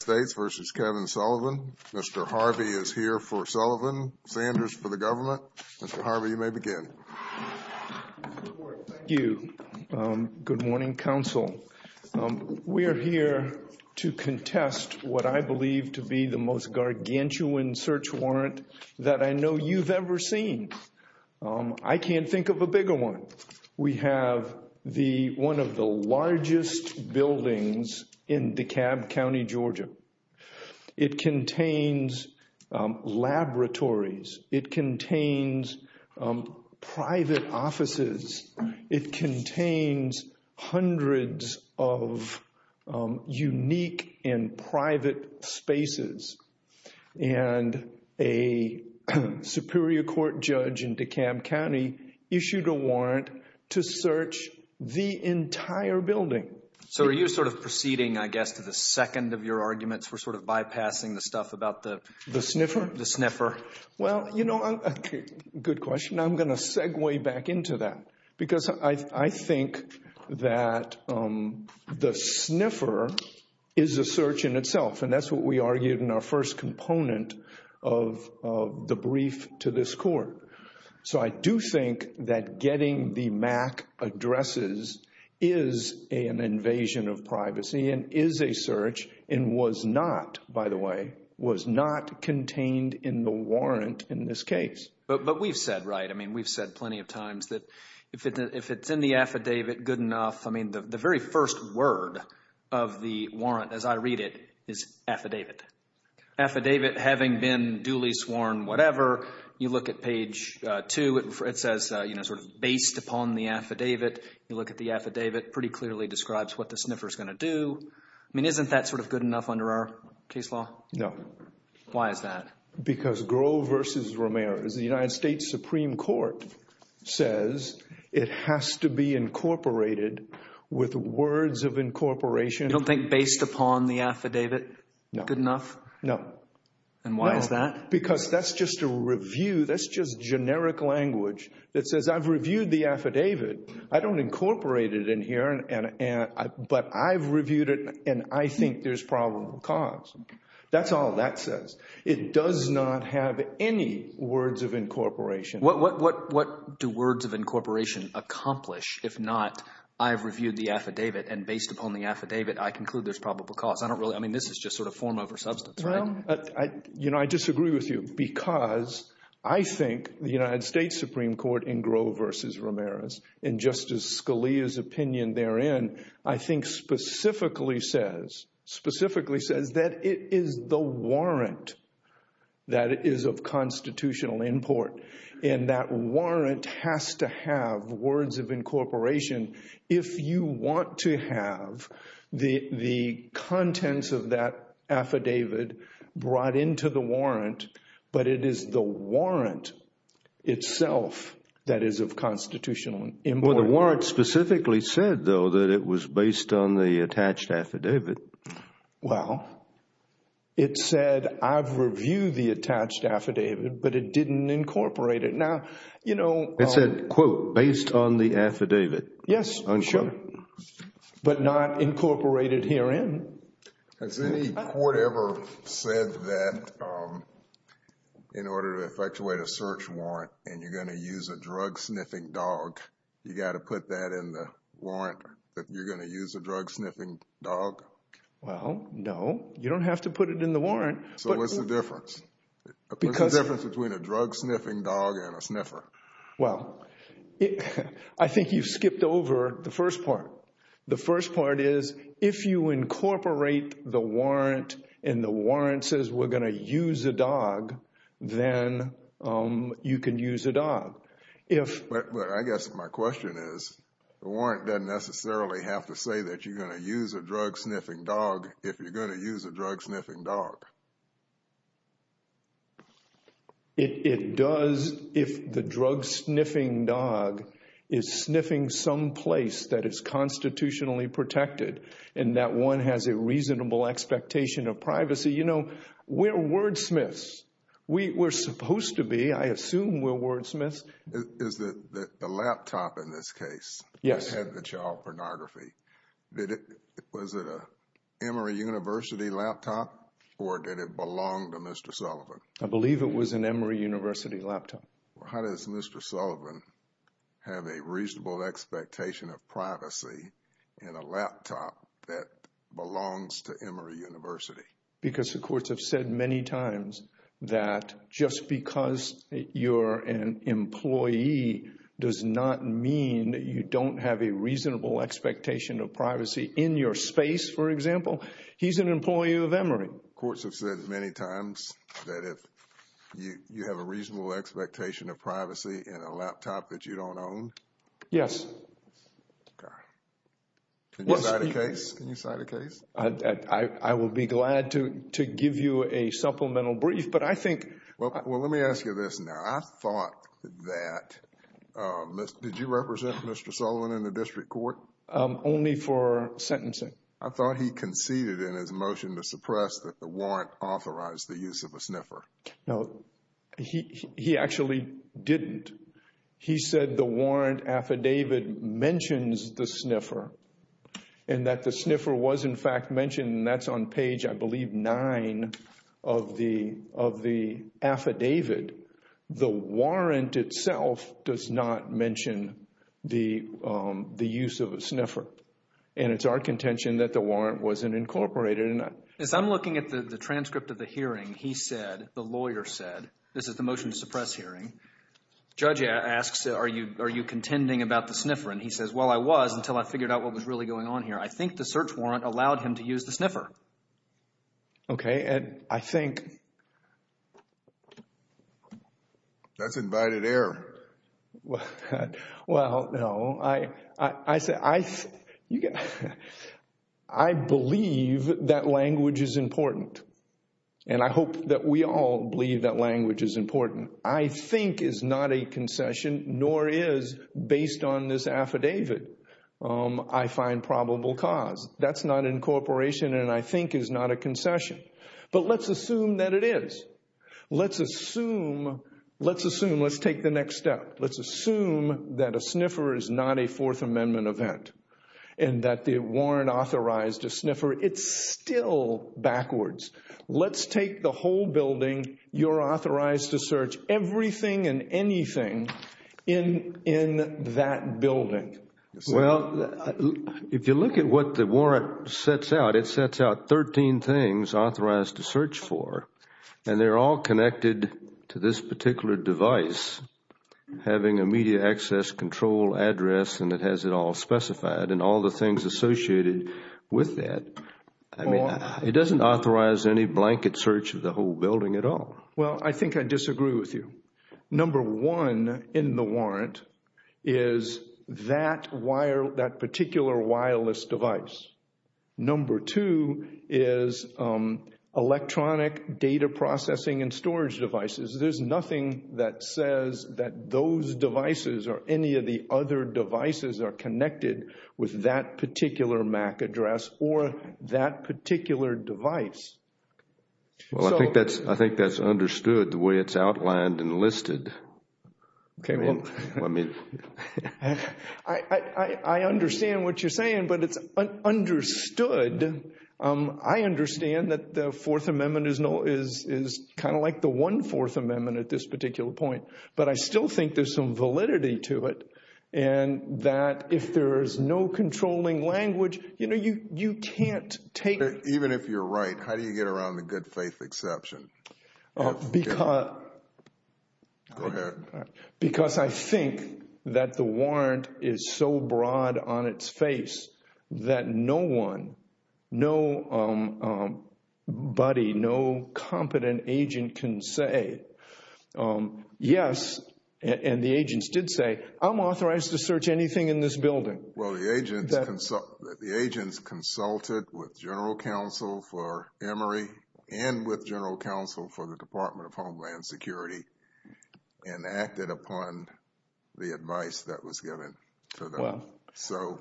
Mr. Harvey is here for Sullivan. Sanders for the government. Mr. Harvey, you may begin. Thank you. Good morning, Council. We are here to contest what I believe to be the most gargantuan search warrant that I know you've ever seen. I can't think of a bigger one. We have the one of the largest buildings in DeKalb County, Georgia. It contains laboratories. It contains private offices. It contains hundreds of unique and private spaces. And a Superior Court judge in DeKalb County issued a warrant to search the entire building. So are you sort of proceeding, I guess, to the second of your arguments? We're sort of bypassing the stuff about the the sniffer? The sniffer. Well, you know, good question. I'm going to segue back into that because I think that the sniffer is a search in itself. And that's what we argued in our first component of the brief to this court. So I do think that getting the MAC addresses is an invasion of privacy and is a search and was not, by the way, was not contained in the warrant in this case. But we've said, right, I mean, we've said plenty of times that if it's in the affidavit, good enough. I mean, the very first word of the warrant, as I read it, is affidavit. Affidavit having been duly sworn, whatever, you look at page two, it says, you know, sort of based upon the affidavit. You look at the affidavit, pretty clearly describes what the sniffer is going to do. I mean, isn't that sort of good enough under our case law? No. Why is that? Because Groh versus Ramirez, the United States Supreme Court says it has to be incorporated with words of incorporation. You don't think based upon the affidavit, good enough? No. And why is that? Because that's just a review. That's just generic language that says I've reviewed the affidavit. I don't incorporate it in here. But I've reviewed it and I think there's probable cause. That's all that says. It does not have any words of incorporation. What do words of incorporation accomplish if not I've reviewed the affidavit and based upon the affidavit, I conclude there's probable cause? I don't really, I mean, this is just sort of form over substance, right? You know, I disagree with you because I think the United States Supreme Court in Groh versus Ramirez, in Justice Scalia's therein, I think specifically says that it is the warrant that is of constitutional import. And that warrant has to have words of incorporation if you want to have the contents of that affidavit brought into the warrant, but it is the warrant itself that is of constitutional import. Well, the warrant specifically said, though, that it was based on the attached affidavit. Well, it said I've reviewed the attached affidavit, but it didn't incorporate it. Now, you know... It said, quote, based on the affidavit. Yes, sure, but not incorporated herein. Has any court ever said that in order to effectuate a search warrant and you're going to use a drug sniffing dog you got to put that in the warrant, that you're going to use a drug sniffing dog? Well, no, you don't have to put it in the warrant. So what's the difference? What's the difference between a drug sniffing dog and a sniffer? Well, I think you've skipped over the first part. The first part is if you incorporate the warrant and the warrant says we're going to use a dog, then you can use a dog. If... But I guess my question is the warrant doesn't necessarily have to say that you're going to use a drug sniffing dog if you're going to use a drug sniffing dog. It does if the drug sniffing dog is sniffing some place that is constitutionally protected and that one has a reasonable expectation of privacy. You know, we're wordsmiths. We're supposed to be. I assume we're wordsmiths. Is the laptop in this case... Yes. ...had the child pornography? Was it an Emory University laptop or did it belong to Mr. Sullivan? I believe it was an Emory University laptop. How does Mr. Sullivan have a reasonable expectation of privacy in a laptop that belongs to Emory University? Because the courts have said many times that just because you're an employee does not mean that you don't have a reasonable expectation of privacy in your space, for example. He's an employee of Emory. Courts have said many times that if you have a reasonable expectation of privacy in a laptop that you don't own? Yes. I will be glad to give you a supplemental brief, but I think... Well, let me ask you this now. I thought that... Did you represent Mr. Sullivan in the district court? Only for sentencing. I thought he conceded in his motion to suppress that the warrant authorized the use of a sniffer. No, he actually didn't. He said the warrant affidavit mentions the sniffer and that the sniffer was, in fact, mentioned. That's on page, I believe, nine of the affidavit. The warrant itself does not mention the use of a sniffer. And it's our contention that the warrant wasn't incorporated. As I'm looking at the transcript of the hearing, he said, the lawyer said, this is the motion to suppress hearing. Judge asks, are you contending about the sniffer? He says, well, I was until I figured out what was really going on here. I think the search warrant allowed him to use the sniffer. Okay, and I think... That's invited error. Well, no. I believe that language is important. And I hope that we all believe that language is important. I think is not a concession, nor is, based on this affidavit, I find probable cause. That's not incorporation, and I think is not a concession. But let's assume that it is. Let's assume, let's take the next step. Let's assume that a sniffer is not a Fourth Amendment event and that the warrant authorized a sniffer. It's still backwards. Let's take the whole building. You're authorized to search everything and anything in that building. Well, if you look at what the warrant sets out, it sets out 13 things authorized to search for. And they're all connected to this particular device, having a media access control address, and it has it all specified and all the things associated with that. It doesn't authorize any blanket search of the whole building at all. Well, I think I disagree with you. Number one in the warrant is that particular wireless device. Number two is electronic data processing and storage devices. There's nothing that says that those devices or any of the other devices are connected with that particular MAC address or that particular device. Well, I think that's understood the way it's outlined and listed. I understand what you're saying, but it's understood. I understand that the Fourth Amendment is kind of like the one Fourth Amendment at this particular point, but I still think there's some validity to it. And that if there is no controlling language, you know, you can't take it. Even if you're right, how do you get around the good faith exception? Because I think that the warrant is so broad on its face that no one, no buddy, no competent agent can say, yes, and the agents did say, I'm authorized to search anything in this building. Well, the agents consulted with General Counsel for Emory and with General Counsel for the Department of Homeland Security and acted upon the advice that was given to them. So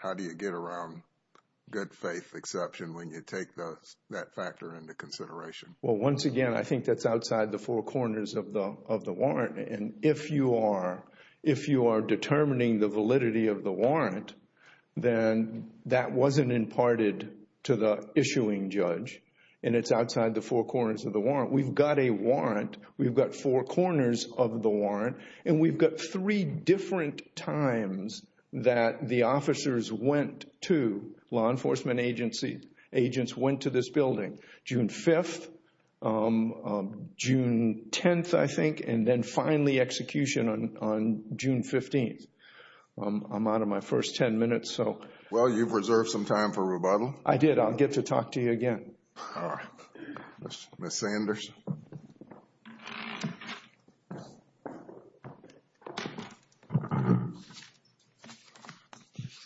how do you get around good faith exception when you take that factor into consideration? Well, once again, I think that's outside the four corners of the warrant. And if you are determining the validity of the warrant, then that wasn't imparted to the issuing judge. And it's outside the four corners of the warrant. We've got a warrant. We've got four corners of the warrant. And we've got three different times that the officers went to law enforcement agency, agents went to this building. June 5th, June 10th, I think, and then finally execution on June 15th. I'm out of my first 10 minutes, so. Well, you've reserved some time for rebuttal. I did. I'll get to talk to you again. Ms. Sanders.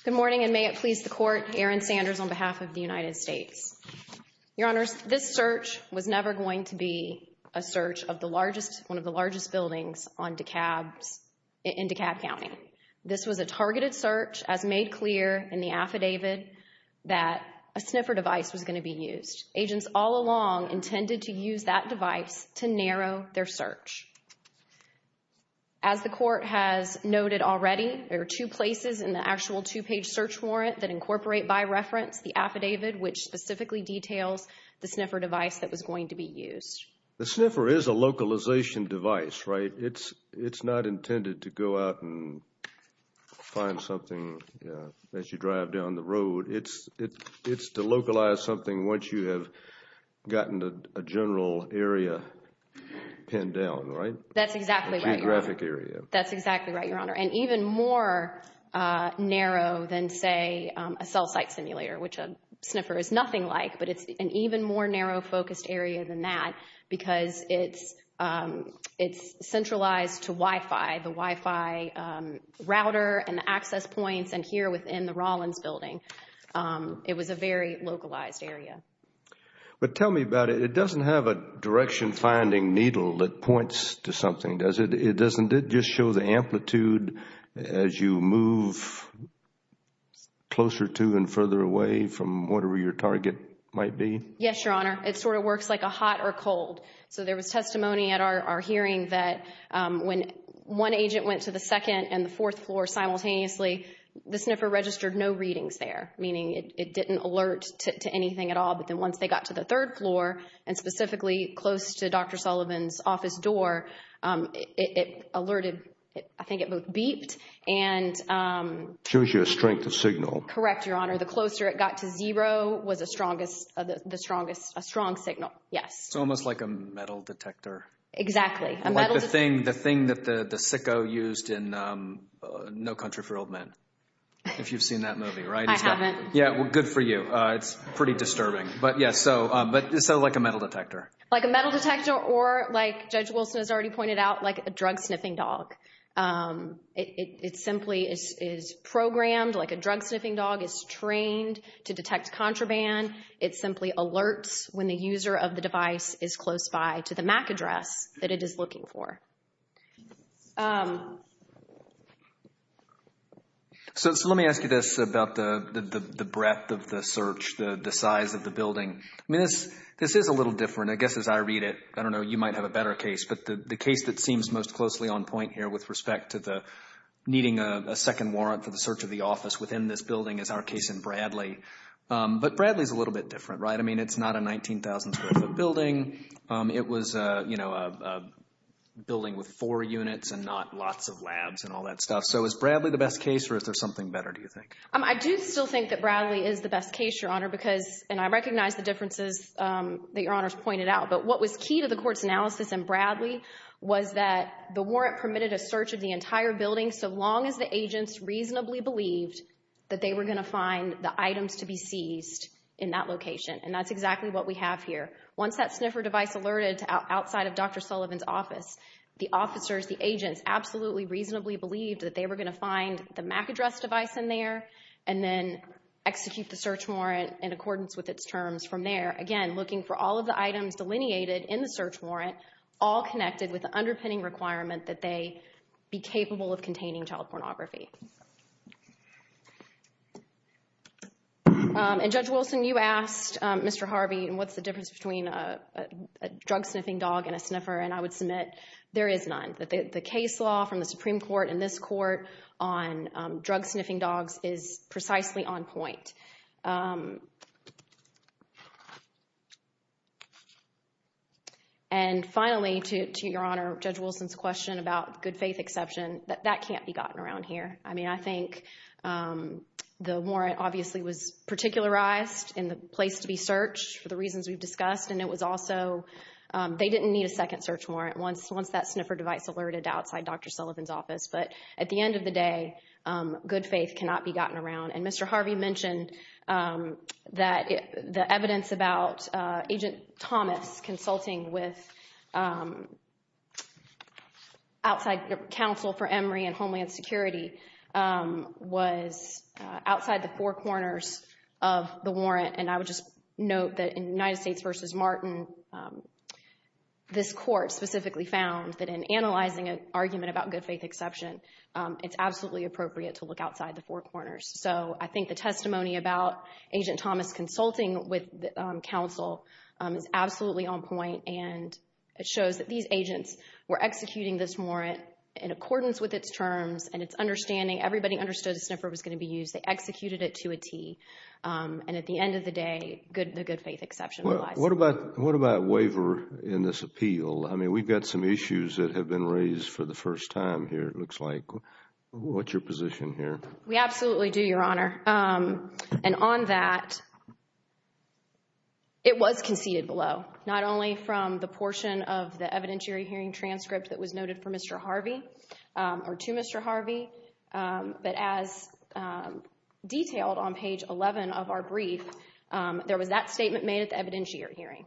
Good morning, and may it please the court. Erin Sanders on behalf of the United States. Your honors, this search was never going to be a search of one of the largest buildings in DeKalb County. This was a targeted search, as made clear in the affidavit, that a sniffer device was going to be used. Agents all along intended to use that device to narrow their search. As the court has noted already, there are two places in the actual two-page search warrant that incorporate by reference the affidavit, which specifically details the sniffer device that was going to be used. The sniffer is a localization device, right? It's not intended to go out and find something as you drive down the road. It's to localize something once you have gotten a general area pinned down, right? That's exactly right, your honor. That's exactly right, your honor. And even more narrow than, say, a cell site simulator, which a sniffer is nothing like, but it's an even more narrow focused area than that because it's centralized to Wi-Fi. The Wi-Fi router and the access points and here within the Rollins building, it was a very localized area. But tell me about it. It doesn't have a direction finding needle that points to something, does it? It doesn't. It just shows the amplitude as you move closer to and further away from whatever your target might be? Yes, your honor. It sort of works like a hot or cold. So there was testimony at our hearing that when one agent went to the second and the fourth floor simultaneously, the sniffer registered no readings there, meaning it didn't alert to anything at all. But then once they got to the third floor and specifically close to Dr. Sullivan's office door, it alerted. I think it both beeped and... Shows you a strength of signal. Correct, your honor. The closer it got to zero was the strongest, a strong signal. Yes. It's almost like a metal detector. Exactly. The thing that the sicko used in No Country for Old Men. If you've seen that movie, right? I haven't. Yeah, well, good for you. It's pretty disturbing. But yeah, so it's sort of like a metal detector. Like a metal detector or like Judge Wilson has already pointed out, like a drug sniffing dog. It simply is programmed like a drug sniffing dog is trained to detect contraband. It simply alerts when the user of the device is close by to the MAC address that it is looking for. So let me ask you this about the breadth of the search, the size of the building. This is a little different, I guess, as I read it. I don't know, you might have a better case, but the case that seems most closely on point here with respect to the needing a second warrant for the search of the office within this building is our case in Bradley. But Bradley is a little bit different, right? I mean, it's not a 19,000 square foot building. It was a building with four units and not lots of labs and all that stuff. So is Bradley the best case or is there something better, do you think? I do still think that Bradley is the best case, your honor, because, I recognize the differences that your honors pointed out, but what was key to the court's analysis in Bradley was that the warrant permitted a search of the entire building so long as the agents reasonably believed that they were going to find the items to be seized in that location. And that's exactly what we have here. Once that sniffer device alerted outside of Dr. Sullivan's office, the officers, the agents, absolutely reasonably believed that they were going to find the MAC address device in there and then execute the search warrant in accordance with its terms from there. Again, looking for all of the items delineated in the search warrant, all connected with the underpinning requirement that they be capable of containing child pornography. And Judge Wilson, you asked Mr. Harvey, what's the difference between a drug sniffing dog and a sniffer? And I would submit there is none. The case law from the Supreme Court and this court on drug sniffing dogs is precisely on point. And finally, to your honor, Judge Wilson's question about good faith exception, that can't be gotten around here. I mean, I think the warrant obviously was particularized in the place to be searched for the reasons we've discussed. And it was also, they didn't need a second search warrant once that sniffer device alerted outside Dr. Sullivan's office. But at the end of the day, good faith cannot be gotten around. And Mr. Harvey mentioned that the evidence about Agent Thomas consulting with outside counsel for Emory and Homeland Security was outside the four corners of the warrant. And I would just note that in United States versus Martin, this court specifically found that in analyzing an argument about good faith exception, it's absolutely appropriate to look outside the four corners. So I think the testimony about Agent Thomas consulting with counsel is absolutely on point. And it shows that these agents were executing this warrant in accordance with its terms and its understanding. Everybody understood the sniffer was going to be used. They executed it to a T. And at the end of the day, the good faith exception. Well, what about waiver in this appeal? I mean, we've got some issues that have been raised for the first time here, it looks like. What's your position here? We absolutely do, Your Honor. And on that, it was conceded below. Not only from the portion of the evidentiary hearing transcript that was noted for Mr. Harvey or to Mr. Harvey, but as detailed on page 11 of our brief, there was that statement made at the evidentiary hearing.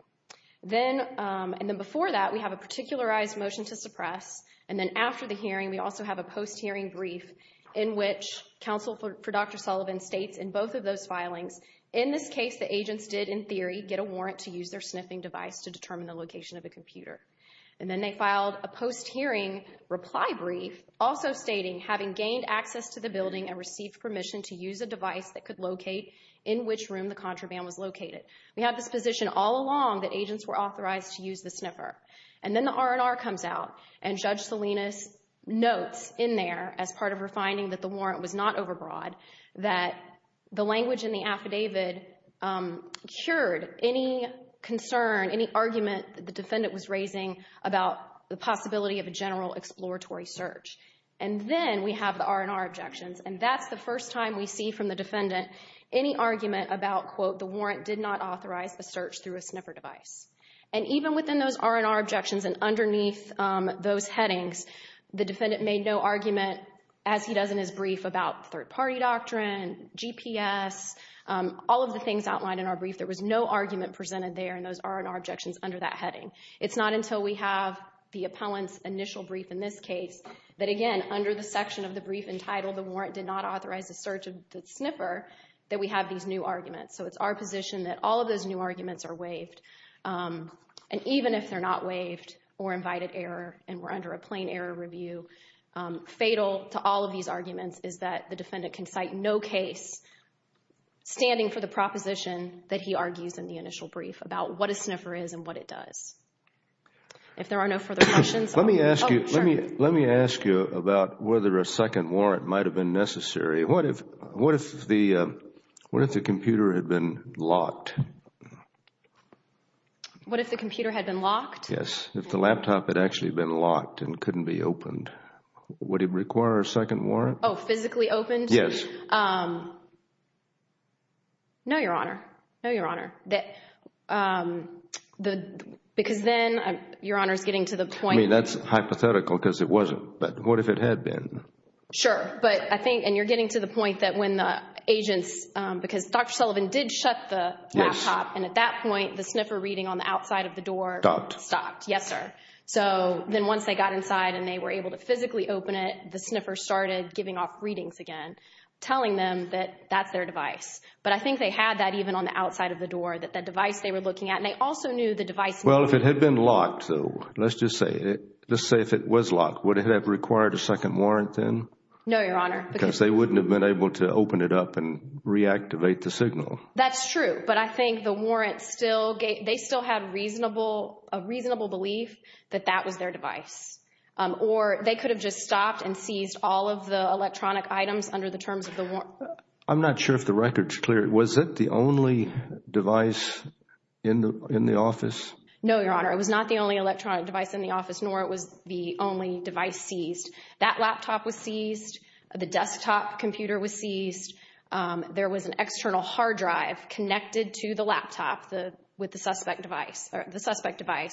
And then before that, we have a particularized motion to suppress. And then after the hearing, we also have a post-hearing brief in which counsel for Dr. Sullivan states in both of those filings, in this case, the agents did, in theory, get a warrant to use their sniffing device to determine the location of a computer. And then they filed a post-hearing reply brief also stating, having gained access to the building and received permission to use a device that could locate in which room the contraband was located. We have this position all along that agents were authorized to use the sniffer. And then the R&R comes out and Judge Salinas notes in there, as part of her finding that the warrant was not overbroad, that the language in the affidavit cured any concern, any argument that the defendant was raising about the possibility of a general exploratory search. And then we have the R&R objections. And that's the first time we see from the defendant any argument about, quote, the warrant did not authorize the search through a sniffer device. And even within those R&R objections and underneath those headings, the defendant made no argument, as he does in his brief, about third-party doctrine, GPS, all of the things outlined in our brief. There was no argument presented there in those R&R objections under that heading. It's not until we have the appellant's initial brief in this case that, again, under the section of the brief entitled, the warrant did not authorize the search of the sniffer, that we have these new arguments. So it's our position that all of those new arguments are waived. And even if they're not waived or invited error and we're under a plain error review, fatal to all of these arguments is that the defendant can cite no case standing for the proposition that he argues in the initial brief about what a sniffer is and what it does. If there are no further questions, let me ask you, let me, let me ask you about whether a second warrant might have been necessary. What if, what if the, what if the computer had been locked? What if the computer had been locked? Yes, if the laptop had actually been locked and couldn't be opened, would it require a second warrant? Oh, physically opened? Yes. No, Your Honor. No, Your Honor. Because then, Your Honor is getting to the point. I mean, that's hypothetical because it wasn't. But what if it had been? Sure. But I think, and you're getting to the point that when the agents, because Dr. Sullivan did shut the laptop. And at that point, the sniffer reading on the outside of the door. Stopped. Stopped. Yes, sir. So then once they got inside and they were able to physically open it, the sniffer started giving off readings again, telling them that that's their device. But I think they had that even on the outside of the door, that the device they were looking at. And they also knew the device. Well, if it had been locked, so let's just say it, let's say if it was locked, would it have required a second warrant then? No, Your Honor. Because they wouldn't have been able to open it up and reactivate the signal. That's true. But I think the warrant still gave, they still had a reasonable belief that that was their device. Or they could have just stopped and seized all of the electronic items under the terms of the warrant. I'm not sure if the record's clear. Was it the only device in the office? No, Your Honor. It was not the only electronic device in the office, nor it was the only device seized. That laptop was seized. The desktop computer was seized. There was an external hard drive connected to the laptop with the suspect device.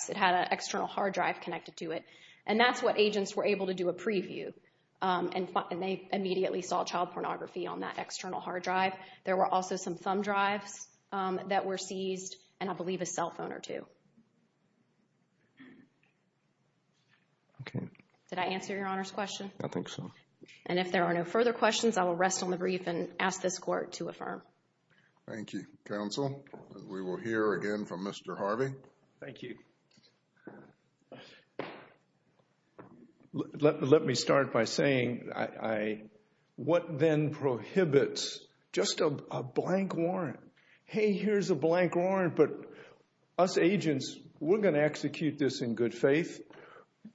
It had an external hard drive connected to it. And that's what agents were able to do a preview. And they immediately saw child pornography on that external hard drive. There were also some thumb drives that were seized, and I believe a cell phone or two. Okay. Did I answer Your Honor's question? I think so. And if there are no further questions, I will rest on the brief and ask this Court to affirm. Thank you, counsel. We will hear again from Mr. Harvey. Thank you. Let me start by saying, what then prohibits just a blank warrant? Hey, here's a blank warrant. But us agents, we're going to execute this in good faith.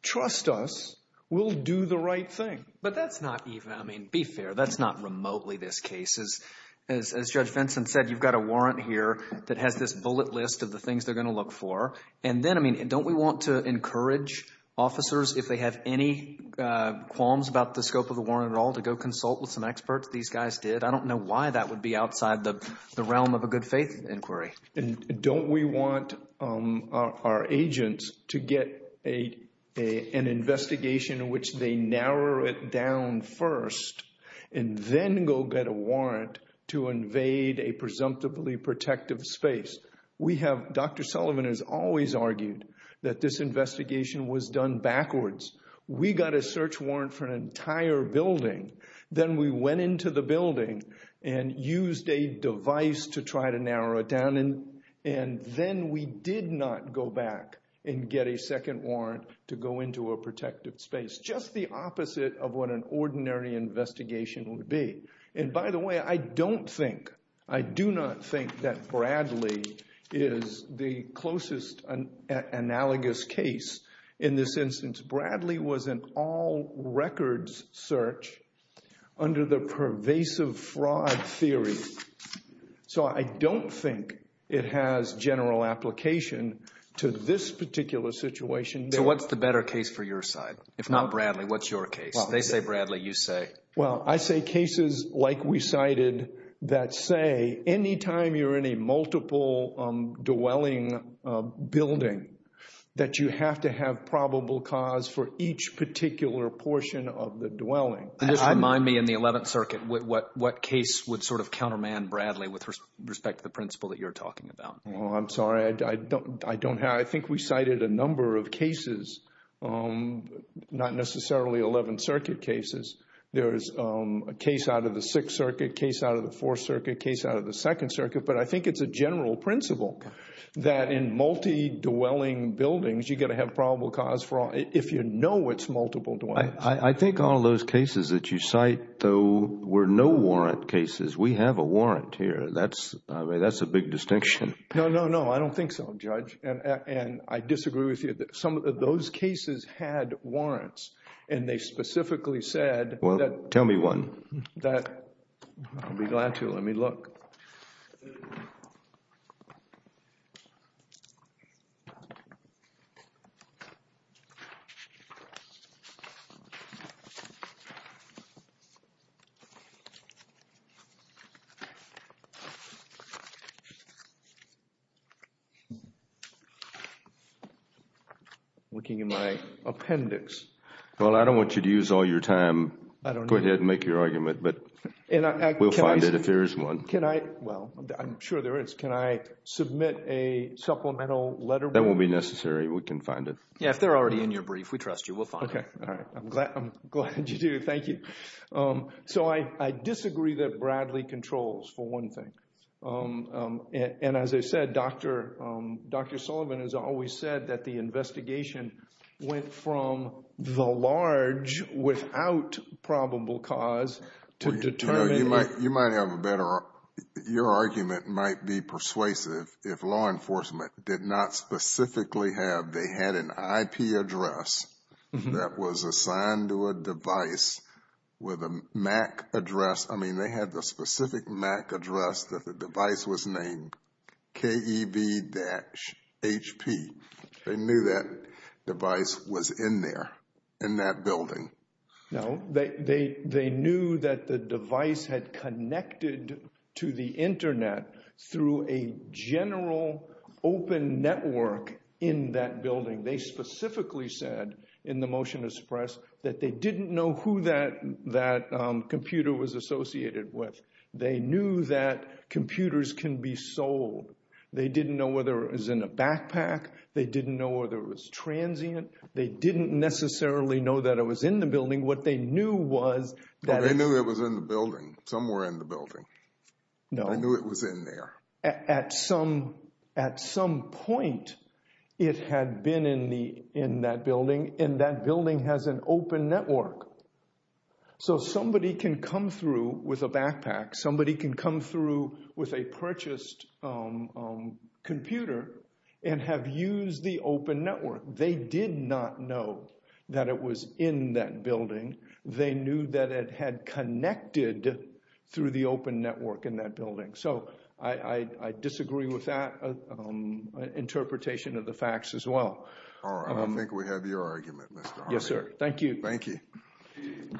Trust us. We'll do the right thing. But that's not even, I mean, be fair. That's not remotely this case. As Judge Vinson said, you've got a warrant here that has this bullet list of the things they're going to look for. And then, I mean, don't we want to encourage officers, if they have any qualms about the scope of the warrant at all, to go consult with some experts? These guys did. I don't know why that would be outside the realm of a good faith inquiry. And don't we want our agents to get an investigation in which they narrow it down first, and then go get a warrant to invade a presumptively protective space? We have, Dr. Sullivan has always argued that this investigation was done backwards. We got a search warrant for an entire building. Then we went into the building and used a device to try to narrow it down. And then we did not go back and get a second warrant to go into a protective space. Just the opposite of what an ordinary investigation would be. And by the way, I don't think, I do not think that Bradley is the closest analogous case in this instance. Bradley was an all records search under the pervasive fraud theory. So I don't think it has general application to this particular situation. So what's the better case for your side? If not Bradley, what's your case? They say Bradley, you say? Well, I say cases like we cited that say any time you're in a multiple dwelling building that you have to have probable cause for each particular portion of the dwelling. And just remind me in the 11th Circuit, what case would sort of counterman Bradley with respect to the principle that you're talking about? Not necessarily 11th Circuit cases. There's a case out of the 6th Circuit, case out of the 4th Circuit, case out of the 2nd Circuit. But I think it's a general principle that in multi-dwelling buildings, you've got to have probable cause if you know it's multiple dwellings. I think all those cases that you cite though were no warrant cases. We have a warrant here. That's, I mean, that's a big distinction. No, no, no. I don't think so, Judge. And I disagree with you that some of those cases had warrants and they specifically said that... Well, tell me one. That, I'll be glad to. Let me look. I'm looking in my appendix. Well, I don't want you to use all your time. I don't know. Go ahead and make your argument. But we'll find it if there is one. Can I, well, I'm sure there is. Can I submit a supplemental letter? That won't be necessary. We can find it. Yeah, if they're already in your brief, we trust you. We'll find it. All right. I'm glad you do. Thank you. So I disagree that Bradley controls for one thing. And as I said, Dr. Sullivan has always said that the investigation went from the large without probable cause to determining... You might have a better... Your argument might be persuasive if law enforcement did not specifically have... They had an IP address that was assigned to a device with a MAC address. They had the specific MAC address that the device was named KEB-HP. They knew that device was in there, in that building. No, they knew that the device had connected to the internet through a general open network in that building. They specifically said in the motion to suppress that they didn't know who that computer was associated with. They knew that computers can be sold. They didn't know whether it was in a backpack. They didn't know whether it was transient. They didn't necessarily know that it was in the building. What they knew was that... They knew it was in the building, somewhere in the building. No. They knew it was in there. At some point, it had been in that building and that building has an open network. So, somebody can come through with a backpack. Somebody can come through with a purchased computer and have used the open network. They did not know that it was in that building. They knew that it had connected through the open network in that building. So, I disagree with that interpretation of the facts as well. All right. I think we have your argument, Mr. Harvey. Yes, sir. Thank you. Thank you.